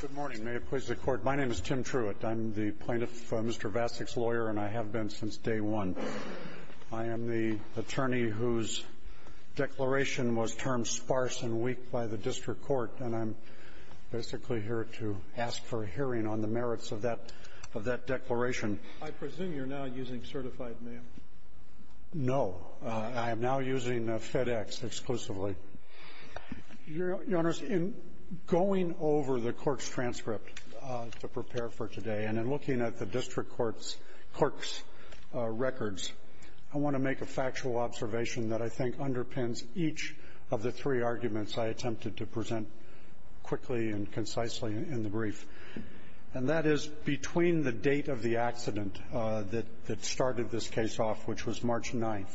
Good morning. May it please the Court. My name is Tim Truitt. I'm the plaintiff, Mr. VACEK's lawyer, and I have been since day one. I am the attorney whose declaration was termed sparse and weak by the District Court, and I'm basically here to ask for a hearing on the merits of that declaration. I presume you're now using certified mail. No. I am now using FedEx exclusively. Your Honors, in going over the court's transcript to prepare for today and in looking at the District Court's records, I want to make a factual observation that I think underpins each of the three arguments I attempted to present quickly and concisely in the brief. And that is, between the date of the accident that started this case off, which was March 9,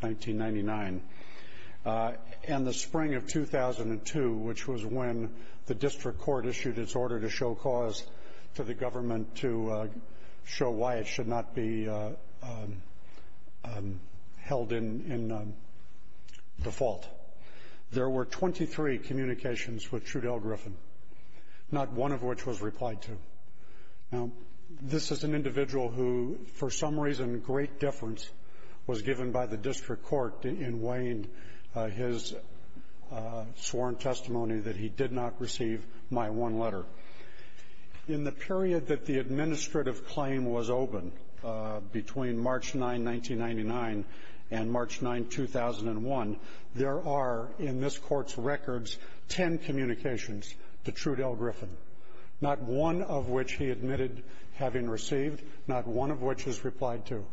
1999, and the spring of 2002, which was when the District Court issued its order to show cause to the government to show why it should not be held in default, there were 23 communications with Trudell Griffin, not one of which was replied to. Now, this is an individual who, for some reason, great difference, was given by the District Court in weighing his sworn testimony that he did not receive my one letter. In the period that the administrative claim was open, between March 9, 1999, and March 9, 2001, there are, in this Court's records, 10 communications to Trudell Griffin, not one of which he admitted having received, not one of which is replied to.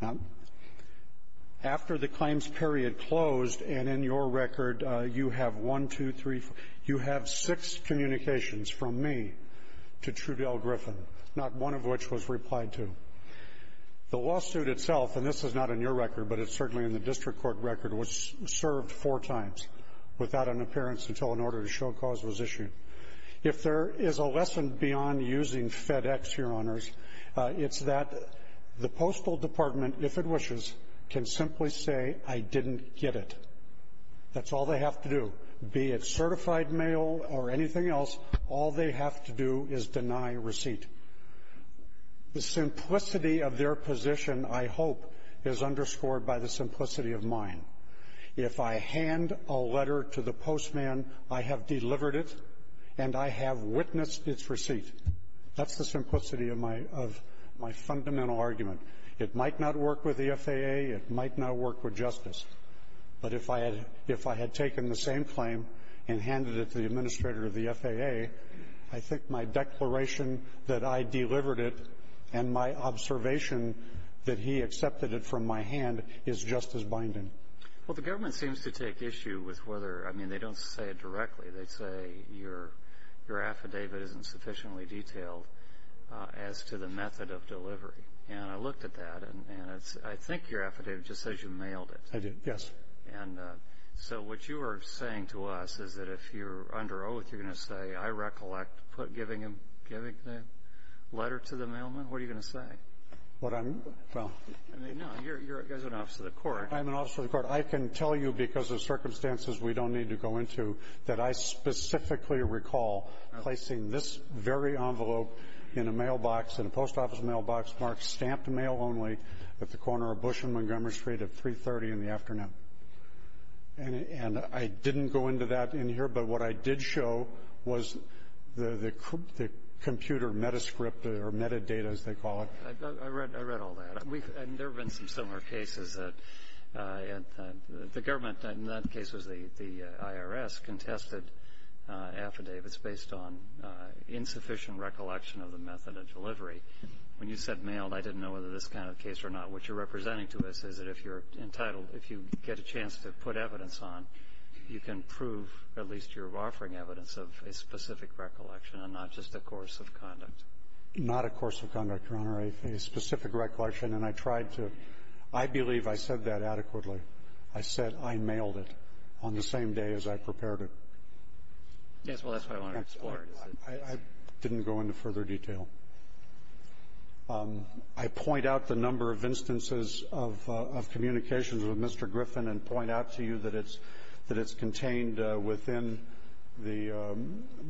Now, after the claims period closed, and in your record, you have one, two, three, four, you have six communications from me to Trudell Griffin, not one of which was replied to. The lawsuit itself, and this is not in your record, but it's certainly in the District Court record, was served four times without an appearance until an order to show cause was issued. If there is a lesson beyond using FedEx, Your Honors, it's that the Postal Department, if it wishes, can simply say, I didn't get it. That's all they have to do. Be it certified mail or anything else, all they have to do is deny receipt. The simplicity of their position, I hope, is underscored by the simplicity of mine. If I hand a letter to the postman, I have delivered it, and I have witnessed its receipt. That's the simplicity of my fundamental argument. It might not work with the FAA. It might not work with Justice. But if I had taken the same claim and handed it to the administrator of the FAA, I think my declaration that I delivered it and my observation that he accepted it from my hand is just as binding. Well, the government seems to take issue with whether, I mean, they don't say it directly. They say your affidavit isn't sufficiently detailed as to the method of delivery. And I looked at that, and I think your affidavit just says you mailed it. I did, yes. And so what you are saying to us is that if you're under oath, you're going to say, I recollect giving the letter to the mailman. What are you going to say? I mean, no, you're an officer of the court. I'm an officer of the court. I can tell you, because of circumstances we don't need to go into, that I specifically recall placing this very envelope in a mailbox, in a post office mailbox, marked stamped mail only, at the corner of Bush and Montgomery Street at 330 in the afternoon. And I didn't go into that in here, but what I did show was the computer metascript or metadata, as they call it. I read all that. And there have been some similar cases. The government in that case was the IRS contested affidavits based on insufficient recollection of the method of delivery. When you said mailed, I didn't know whether this kind of case or not. What you're representing to us is that if you're entitled, if you get a chance to put evidence on, you can prove at least you're offering evidence of a specific recollection and not just a course of conduct. Not a course of conduct, Your Honor, a specific recollection. And I tried to. I believe I said that adequately. I said I mailed it on the same day as I prepared it. Yes, well, that's what I want to explore. I didn't go into further detail. I point out the number of instances of communications with Mr. Griffin and point out to you that it's contained within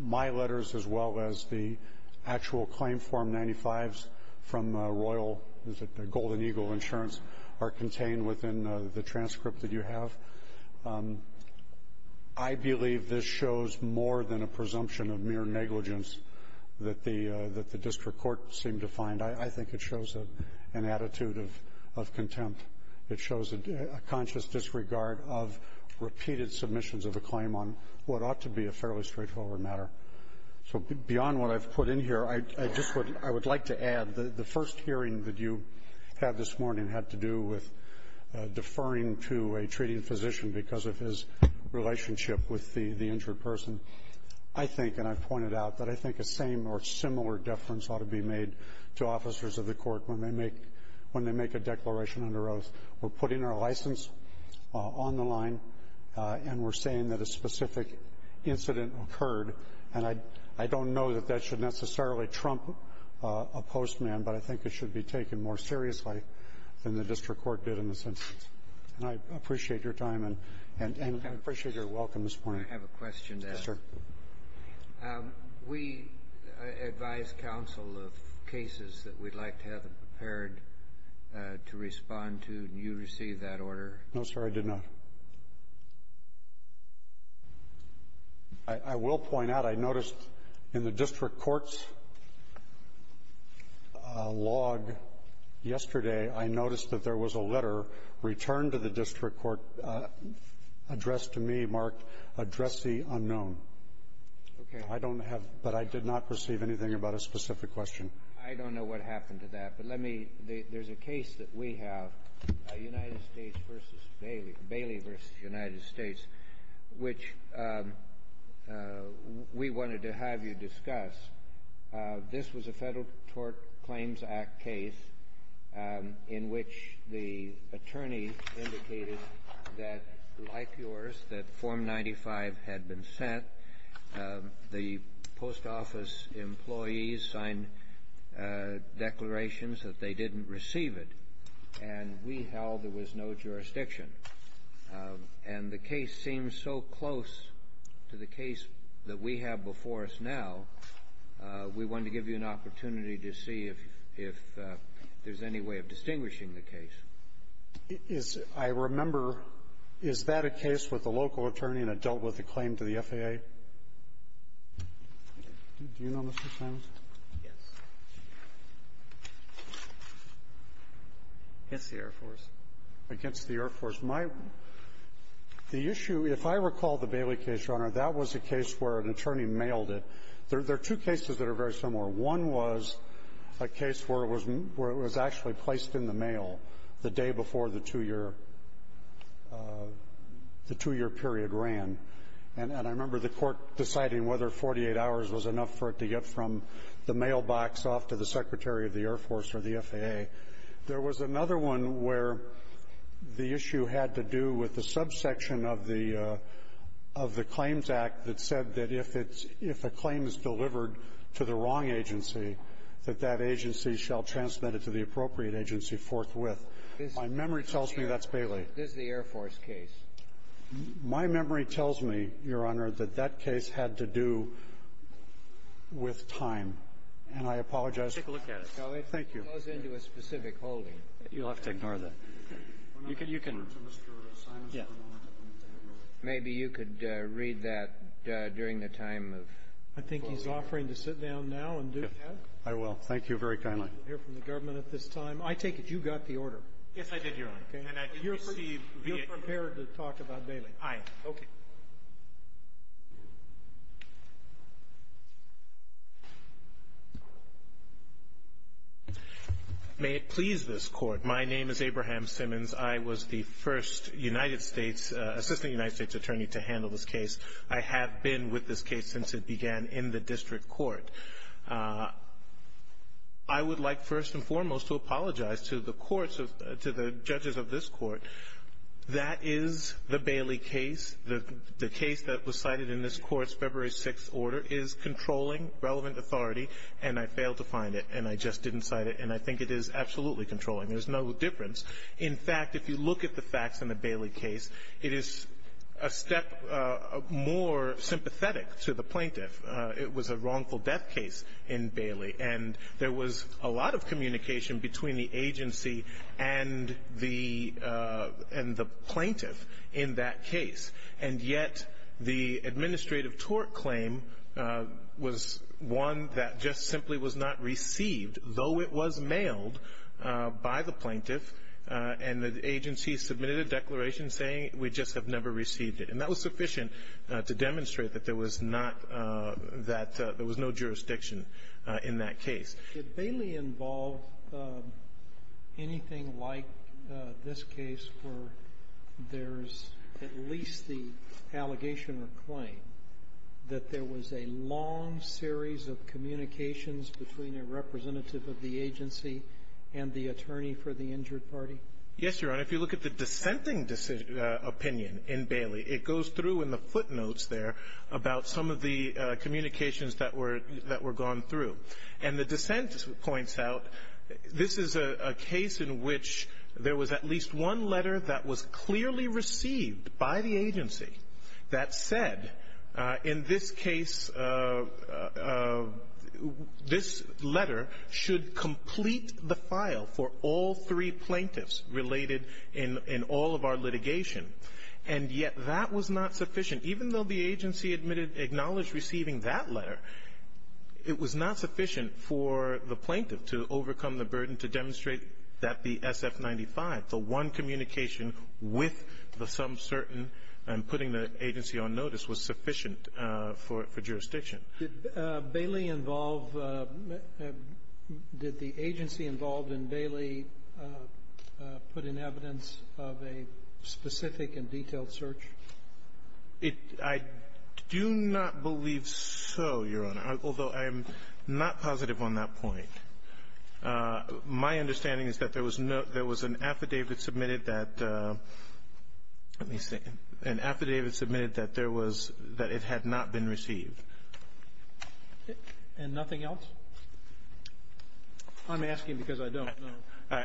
my letters as well as the actual claim form 95s from Royal Golden Eagle Insurance are contained within the transcript that you have. I believe this shows more than a presumption of mere negligence that the district court seemed to find. I think it shows an attitude of contempt. It shows a conscious disregard of repeated submissions of a claim on what ought to be a fairly straightforward matter. So beyond what I've put in here, I would like to add the first hearing that you had this morning had to do with deferring to a treating physician because of his relationship with the injured person. I think, and I've pointed out that I think a same or similar deference ought to be made to officers of the court when they make a declaration under oath. We're putting our license on the line, and we're saying that a specific incident occurred. And I don't know that that should necessarily trump a postman, but I think it should be taken more seriously than the district court did in this instance. And I appreciate your time, and I appreciate your welcome this morning. Can I have a question? Yes, sir. We advised counsel of cases that we'd like to have them prepared to respond to, and you received that order. No, sir, I did not. I will point out, I noticed in the district court's log yesterday, I noticed that there was a letter returned to the district court addressed to me marked, address the unknown. Okay. I don't have, but I did not receive anything about a specific question. I don't know what happened to that, but let me, there's a case that we have, United States, which we wanted to have you discuss. This was a Federal Tort Claims Act case in which the attorney indicated that, like yours, that Form 95 had been sent. The post office employees signed declarations that they didn't receive it, and we held there was no jurisdiction. And the case seemed so close to the case that we have before us now, we wanted to give you an opportunity to see if there's any way of distinguishing the case. I remember, is that a case with a local attorney that dealt with a claim to the FAA? Do you know, Mr. Simons? Yes. Against the Air Force. Against the Air Force. My the issue, if I recall the Bailey case, Your Honor, that was a case where an attorney mailed it. There are two cases that are very similar. One was a case where it was actually placed in the mail the day before the two-year period ran. And I remember the Court deciding whether 48 hours was enough for it to get from the mailbox off to the Secretary of the Air Force or the FAA. There was another one where the issue had to do with the subsection of the Claims Act that said that if a claim is delivered to the wrong agency, that that agency shall transmit it to the appropriate agency forthwith. My memory tells me that's Bailey. This is the Air Force case. My memory tells me, Your Honor, that that case had to do with time. And I apologize. Let's take a look at it. Thank you. It goes into a specific holding. You'll have to ignore that. You can. Yeah. Maybe you could read that during the time of 48 hours. I think he's offering to sit down now and do that. I will. Thank you very kindly. I don't want to hear from the government at this time. I take it you got the order. Yes, I did, Your Honor. Okay. And you're prepared to talk about Bailey. I am. Okay. May it please this Court, my name is Abraham Simmons. I was the first United States, assistant United States attorney to handle this case. I have been with this case since it began in the district court. I would like first and foremost to apologize to the courts, to the judges of this court. That is the Bailey case. The case that was cited in this court's February 6th order is controlling relevant authority, and I failed to find it, and I just didn't cite it. And I think it is absolutely controlling. There's no difference. In fact, if you look at the facts in the Bailey case, it is a step more sympathetic to the plaintiff. It was a wrongful death case in Bailey, and there was a lot of communication between the agency and the plaintiff in that case. And yet the administrative tort claim was one that just simply was not received, though it was mailed by the plaintiff, and the agency submitted a declaration saying we just have never received it. And that was sufficient to demonstrate that there was not that — there was no jurisdiction in that case. Did Bailey involve anything like this case where there's at least the allegation or claim that there was a long series of communications between a representative of the agency and the attorney for the injured party? Yes, Your Honor. If you look at the dissenting opinion in Bailey, it goes through in the footnotes there about some of the communications that were gone through. And the dissent points out this is a case in which there was at least one letter that was clearly received by the agency that said, in this case, this letter should complete the file for all three plaintiffs related in all of our litigation. And yet that was not sufficient. Even though the agency admitted — acknowledged receiving that letter, it was not sufficient for the plaintiff to overcome the burden to demonstrate that the SF-95, the one communication with the some certain jurisdiction and putting the agency on notice was sufficient for jurisdiction. Did Bailey involve — did the agency involved in Bailey put in evidence of a specific and detailed search? It — I do not believe so, Your Honor, although I am not positive on that point. My understanding is that there was no — there was an affidavit submitted that — let me see — an affidavit submitted that there was — that it had not been received. And nothing else? I'm asking because I don't know.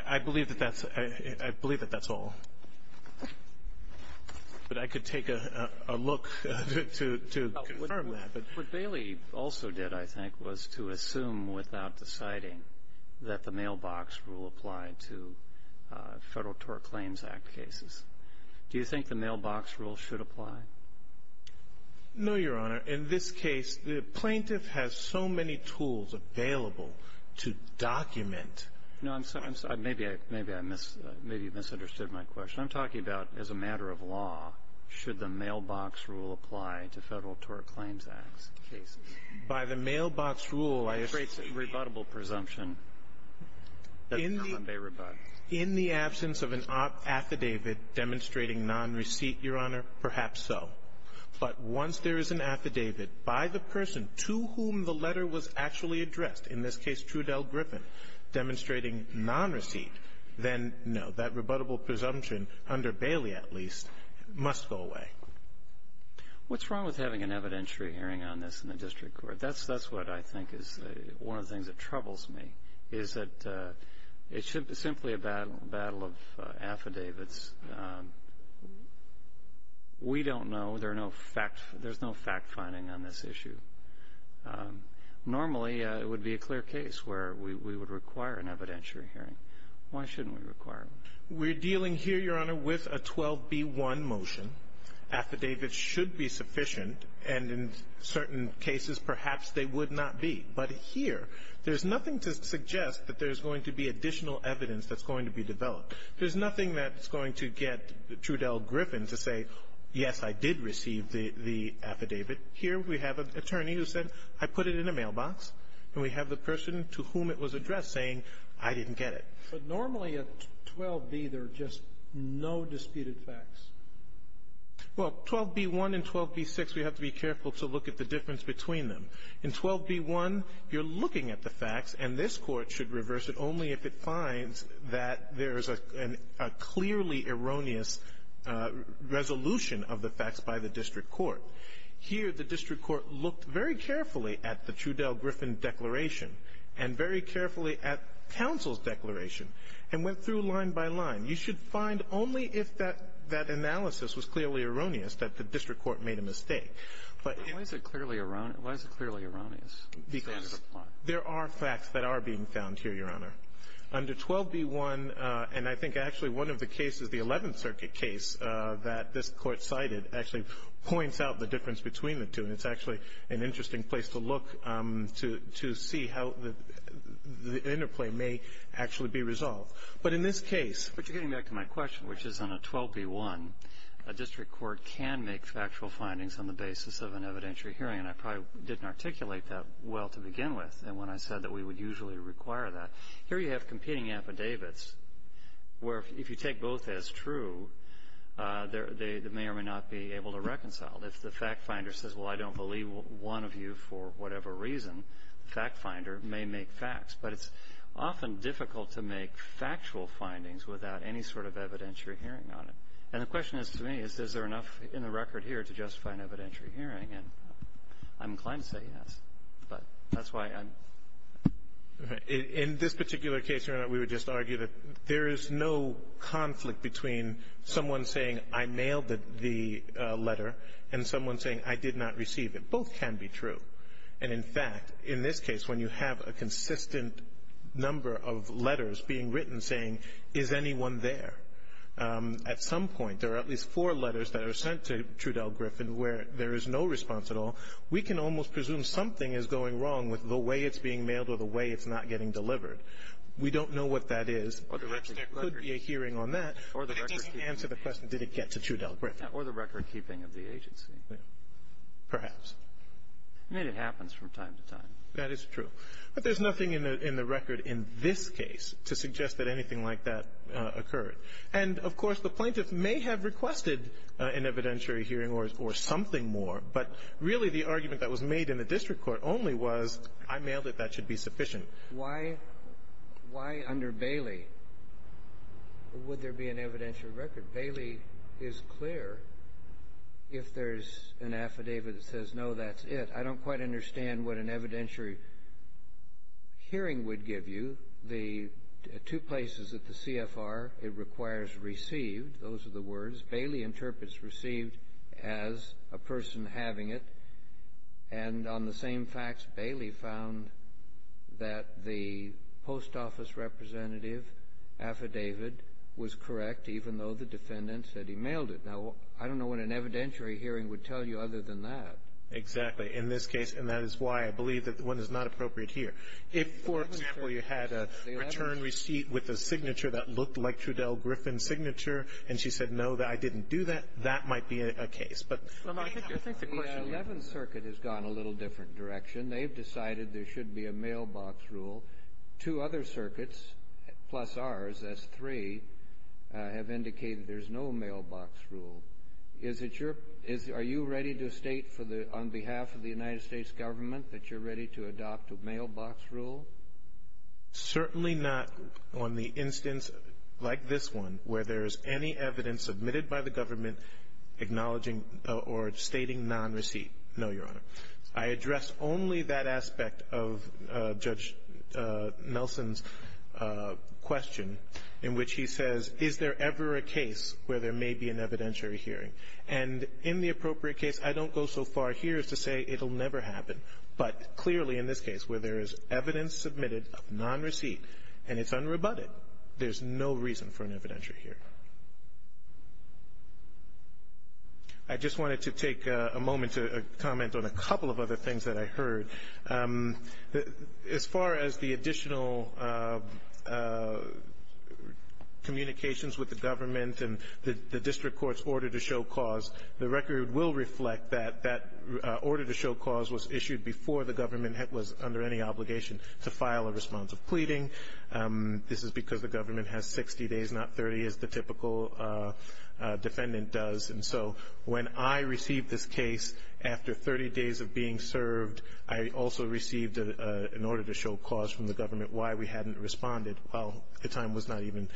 I believe that that's — I believe that that's all. But I could take a look to confirm that. What Bailey also did, I think, was to assume without deciding that the mailbox rule applied to Federal Tort Claims Act cases. Do you think the mailbox rule should apply? No, Your Honor. In this case, the plaintiff has so many tools available to document — No, I'm sorry. Maybe I — maybe I mis — maybe you misunderstood my question. I'm talking about as a matter of law, should the mailbox rule apply to Federal Tort Claims Act cases? By the mailbox rule, I — That creates a rebuttable presumption. That's not a rebuttal. In the absence of an affidavit demonstrating nonreceipt, Your Honor, perhaps so. But once there is an affidavit by the person to whom the letter was actually addressed, in this case Trudell Griffin, demonstrating nonreceipt, then, no, that rebuttable presumption, under Bailey at least, must go away. What's wrong with having an evidentiary hearing on this in the district court? That's — that's what I think is one of the things that troubles me, is that it's simply a battle of affidavits. We don't know. There are no fact — there's no fact-finding on this issue. Normally, it would be a clear case where we would require an evidentiary hearing. Why shouldn't we require one? We're dealing here, Your Honor, with a 12B1 motion. Affidavits should be sufficient, and in certain cases, perhaps they would not be. But here, there's nothing to suggest that there's going to be additional evidence that's going to be developed. There's nothing that's going to get Trudell Griffin to say, yes, I did receive the — the affidavit. Here, we have an attorney who said, I put it in a mailbox, and we have the person to whom it was addressed saying, I didn't But normally, at 12B, there are just no disputed facts. Well, 12B1 and 12B6, we have to be careful to look at the difference between them. In 12B1, you're looking at the facts, and this Court should reverse it only if it finds that there is a — a clearly erroneous resolution of the facts by the district court. Here, the district court looked very carefully at the Trudell Griffin declaration and very carefully at counsel's declaration and went through line by line. You should find only if that — that analysis was clearly erroneous that the district court made a mistake. But — Why is it clearly — why is it clearly erroneous? Because there are facts that are being found here, Your Honor. Under 12B1, and I think actually one of the cases, the Eleventh Circuit case that this Court cited, actually points out the difference between the two, and it's actually an interesting place to look to — to see how the interplay may actually be resolved. But in this case — But you're getting back to my question, which is on a 12B1, a district court can make factual findings on the basis of an evidentiary hearing, and I probably didn't articulate that well to begin with, and when I said that we would usually require that. Here you have competing affidavits where, if you take both as true, they may or may not be able to reconcile. If the fact finder says, well, I don't believe one of you for whatever reason, the fact finder may make facts. But it's often difficult to make factual findings without any sort of evidentiary hearing on it. And the question is to me, is there enough in the record here to justify an evidentiary hearing? And I'm inclined to say yes, but that's why I'm — In this particular case, Your Honor, we would just argue that there is no conflict between someone saying, I mailed the letter, and someone saying, I did not receive it. Both can be true. And, in fact, in this case, when you have a consistent number of letters being written saying, is anyone there? At some point, there are at least four letters that are sent to Trudell Griffin where there is no response at all. We can almost presume something is going wrong with the way it's being mailed or the way it's not getting delivered. We don't know what that is. Perhaps there could be a hearing on that. But it didn't answer the question, did it get to Trudell Griffin. Or the recordkeeping of the agency. Perhaps. I mean, it happens from time to time. That is true. But there's nothing in the record in this case to suggest that anything like that occurred. And, of course, the plaintiff may have requested an evidentiary hearing or something more. But really, the argument that was made in the district court only was, I mailed That should be sufficient. Why under Bailey would there be an evidentiary record? Bailey is clear if there's an affidavit that says, no, that's it. I don't quite understand what an evidentiary hearing would give you. The two places at the CFR, it requires received. Those are the words. Bailey interprets received as a person having it. And on the same facts, Bailey found that the post office representative affidavit was correct, even though the defendant said he mailed it. Now, I don't know what an evidentiary hearing would tell you other than that. Exactly. In this case, and that is why I believe that one is not appropriate here. If, for example, you had a return receipt with a signature that looked like Trudell Griffin's signature, and she said, no, I didn't do that, that might be a case. The Eleventh Circuit has gone a little different direction. They've decided there should be a mailbox rule. Two other circuits, plus ours, that's three, have indicated there's no mailbox rule. Are you ready to state on behalf of the United States government that you're ready to adopt a mailbox rule? Certainly not on the instance like this one where there is any evidence submitted by the government acknowledging or stating non-receipt. No, Your Honor. I address only that aspect of Judge Nelson's question in which he says, is there ever a case where there may be an evidentiary hearing? And in the appropriate case, I don't go so far here as to say it will never happen. But clearly in this case where there is evidence submitted of non-receipt and it's unrebutted, there's no reason for an evidentiary hearing. I just wanted to take a moment to comment on a couple of other things that I heard. As far as the additional communications with the government and the district court's order to show cause, the record will reflect that that order to show cause was issued before the government was under any obligation to file a response of pleading. This is because the government has 60 days, not 30 as the typical defendant does. And so when I received this case after 30 days of being served, I also received an order to show cause from the government why we hadn't responded. Well, the time was not even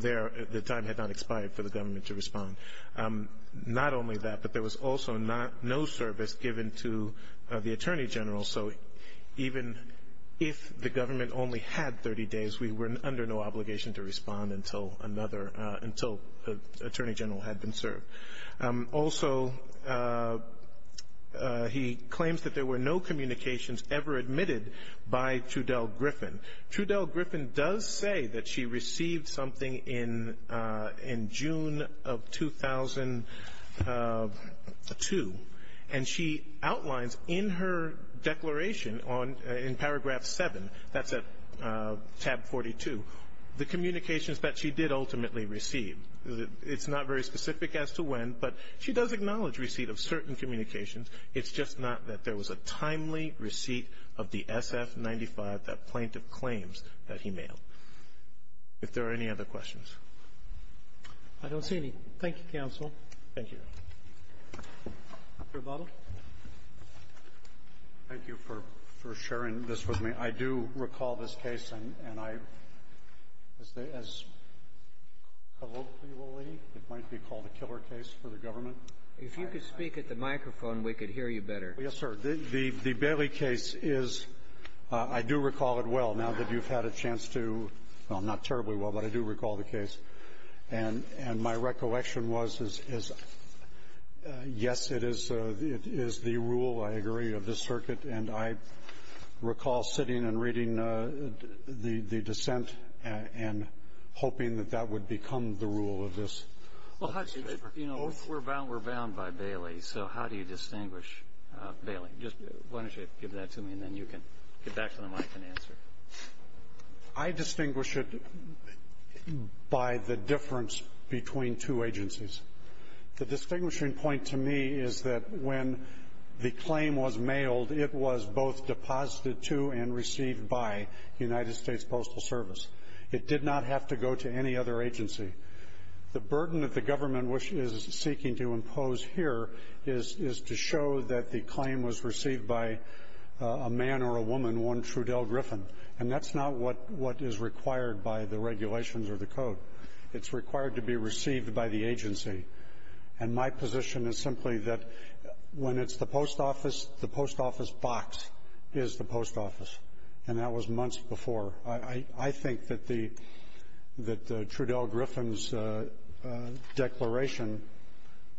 there. The time had not expired for the government to respond. Not only that, but there was also no service given to the Attorney General. So even if the government only had 30 days, we were under no obligation to respond until Attorney General had been served. Also, he claims that there were no communications ever admitted by Trudell Griffin. Trudell Griffin does say that she received something in June of 2002, and she outlines in her declaration in paragraph 7, that's at tab 42, the communications that she did ultimately receive. It's not very specific as to when, but she does acknowledge receipt of certain communications. It's just not that there was a timely receipt of the SF-95 that plaintiff claims that he mailed. If there are any other questions. Roberts. I don't see any. Thank you, counsel. Thank you. Mr. Butler. Thank you for sharing this with me. I do recall this case, and I, as colloquially, it might be called a killer case for the government. If you could speak at the microphone, we could hear you better. Yes, sir. The Bailey case is, I do recall it well, now that you've had a chance to, well, not terribly well, but I do recall the case. And my recollection was, yes, it is the rule, I agree, of this circuit, and I recall sitting and reading the dissent and hoping that that would become the rule of this. Well, you know, we're bound by Bailey, so how do you distinguish Bailey? Why don't you give that to me, and then you can get back to the mic and answer. I distinguish it by the difference between two agencies. The distinguishing point to me is that when the claim was mailed, it was both deposited to and received by the United States Postal Service. It did not have to go to any other agency. The burden that the government is seeking to impose here is to show that the claim was received by a man or a woman, one Trudell Griffin. And that's not what is required by the regulations or the code. It's required to be received by the agency. And my position is simply that when it's the post office, the post office box is the post office. And that was months before. I think that the Trudell Griffin's declaration,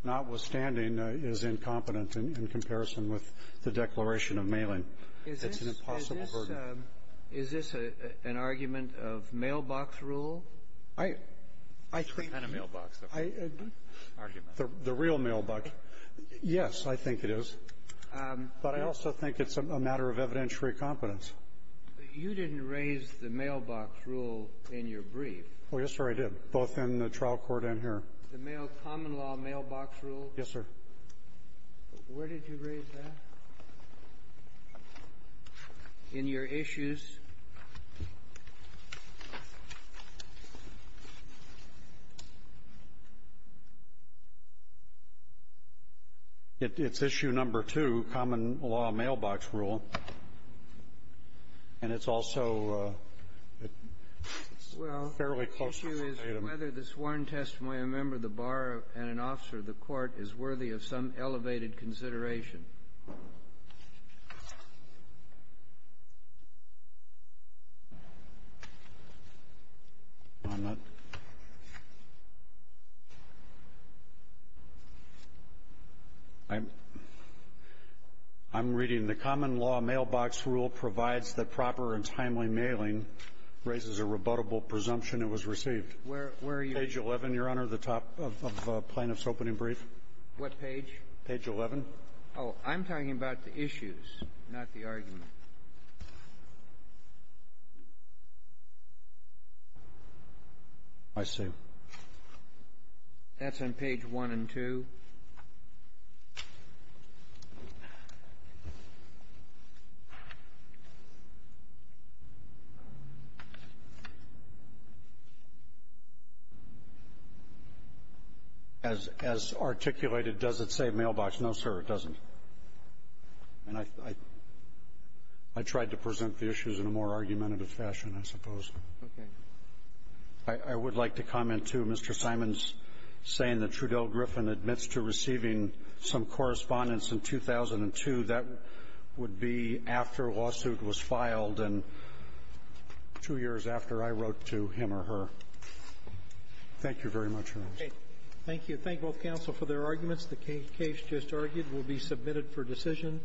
notwithstanding, is incompetent in comparison with the declaration of mailing. It's an impossible burden. Is this an argument of mailbox rule? I think the real mailbox. Yes, I think it is. But I also think it's a matter of evidentiary competence. You didn't raise the mailbox rule in your brief. Oh, yes, sir, I did, both in the trial court and here. The mail common law mailbox rule? Yes, sir. Where did you raise that? In your issues. It's issue number two, common law mailbox rule. And it's also fairly close to the item. Whether the sworn testimony of a member of the bar and an officer of the court is worthy of some elevated consideration. I'm not. I'm reading the common law mailbox rule provides the proper and timely mailing and raises a rebuttable presumption it was received. Where are you? Page 11, Your Honor, the top of Plaintiff's opening brief. What page? Page 11. Oh, I'm talking about the issues, not the argument. I see. That's on page 1 and 2. As articulated, does it say mailbox? No, sir, it doesn't. And I tried to present the issues in a more argumentative fashion, I suppose. Okay. I would like to comment to Mr. Simon's saying that Trudell Griffin admits to receiving some correspondence in 2002. That would be after a lawsuit was filed and two years after I wrote to him or her. Thank you very much, Your Honor. Thank you. Thank both counsel for their arguments. The case just argued will be submitted for decision.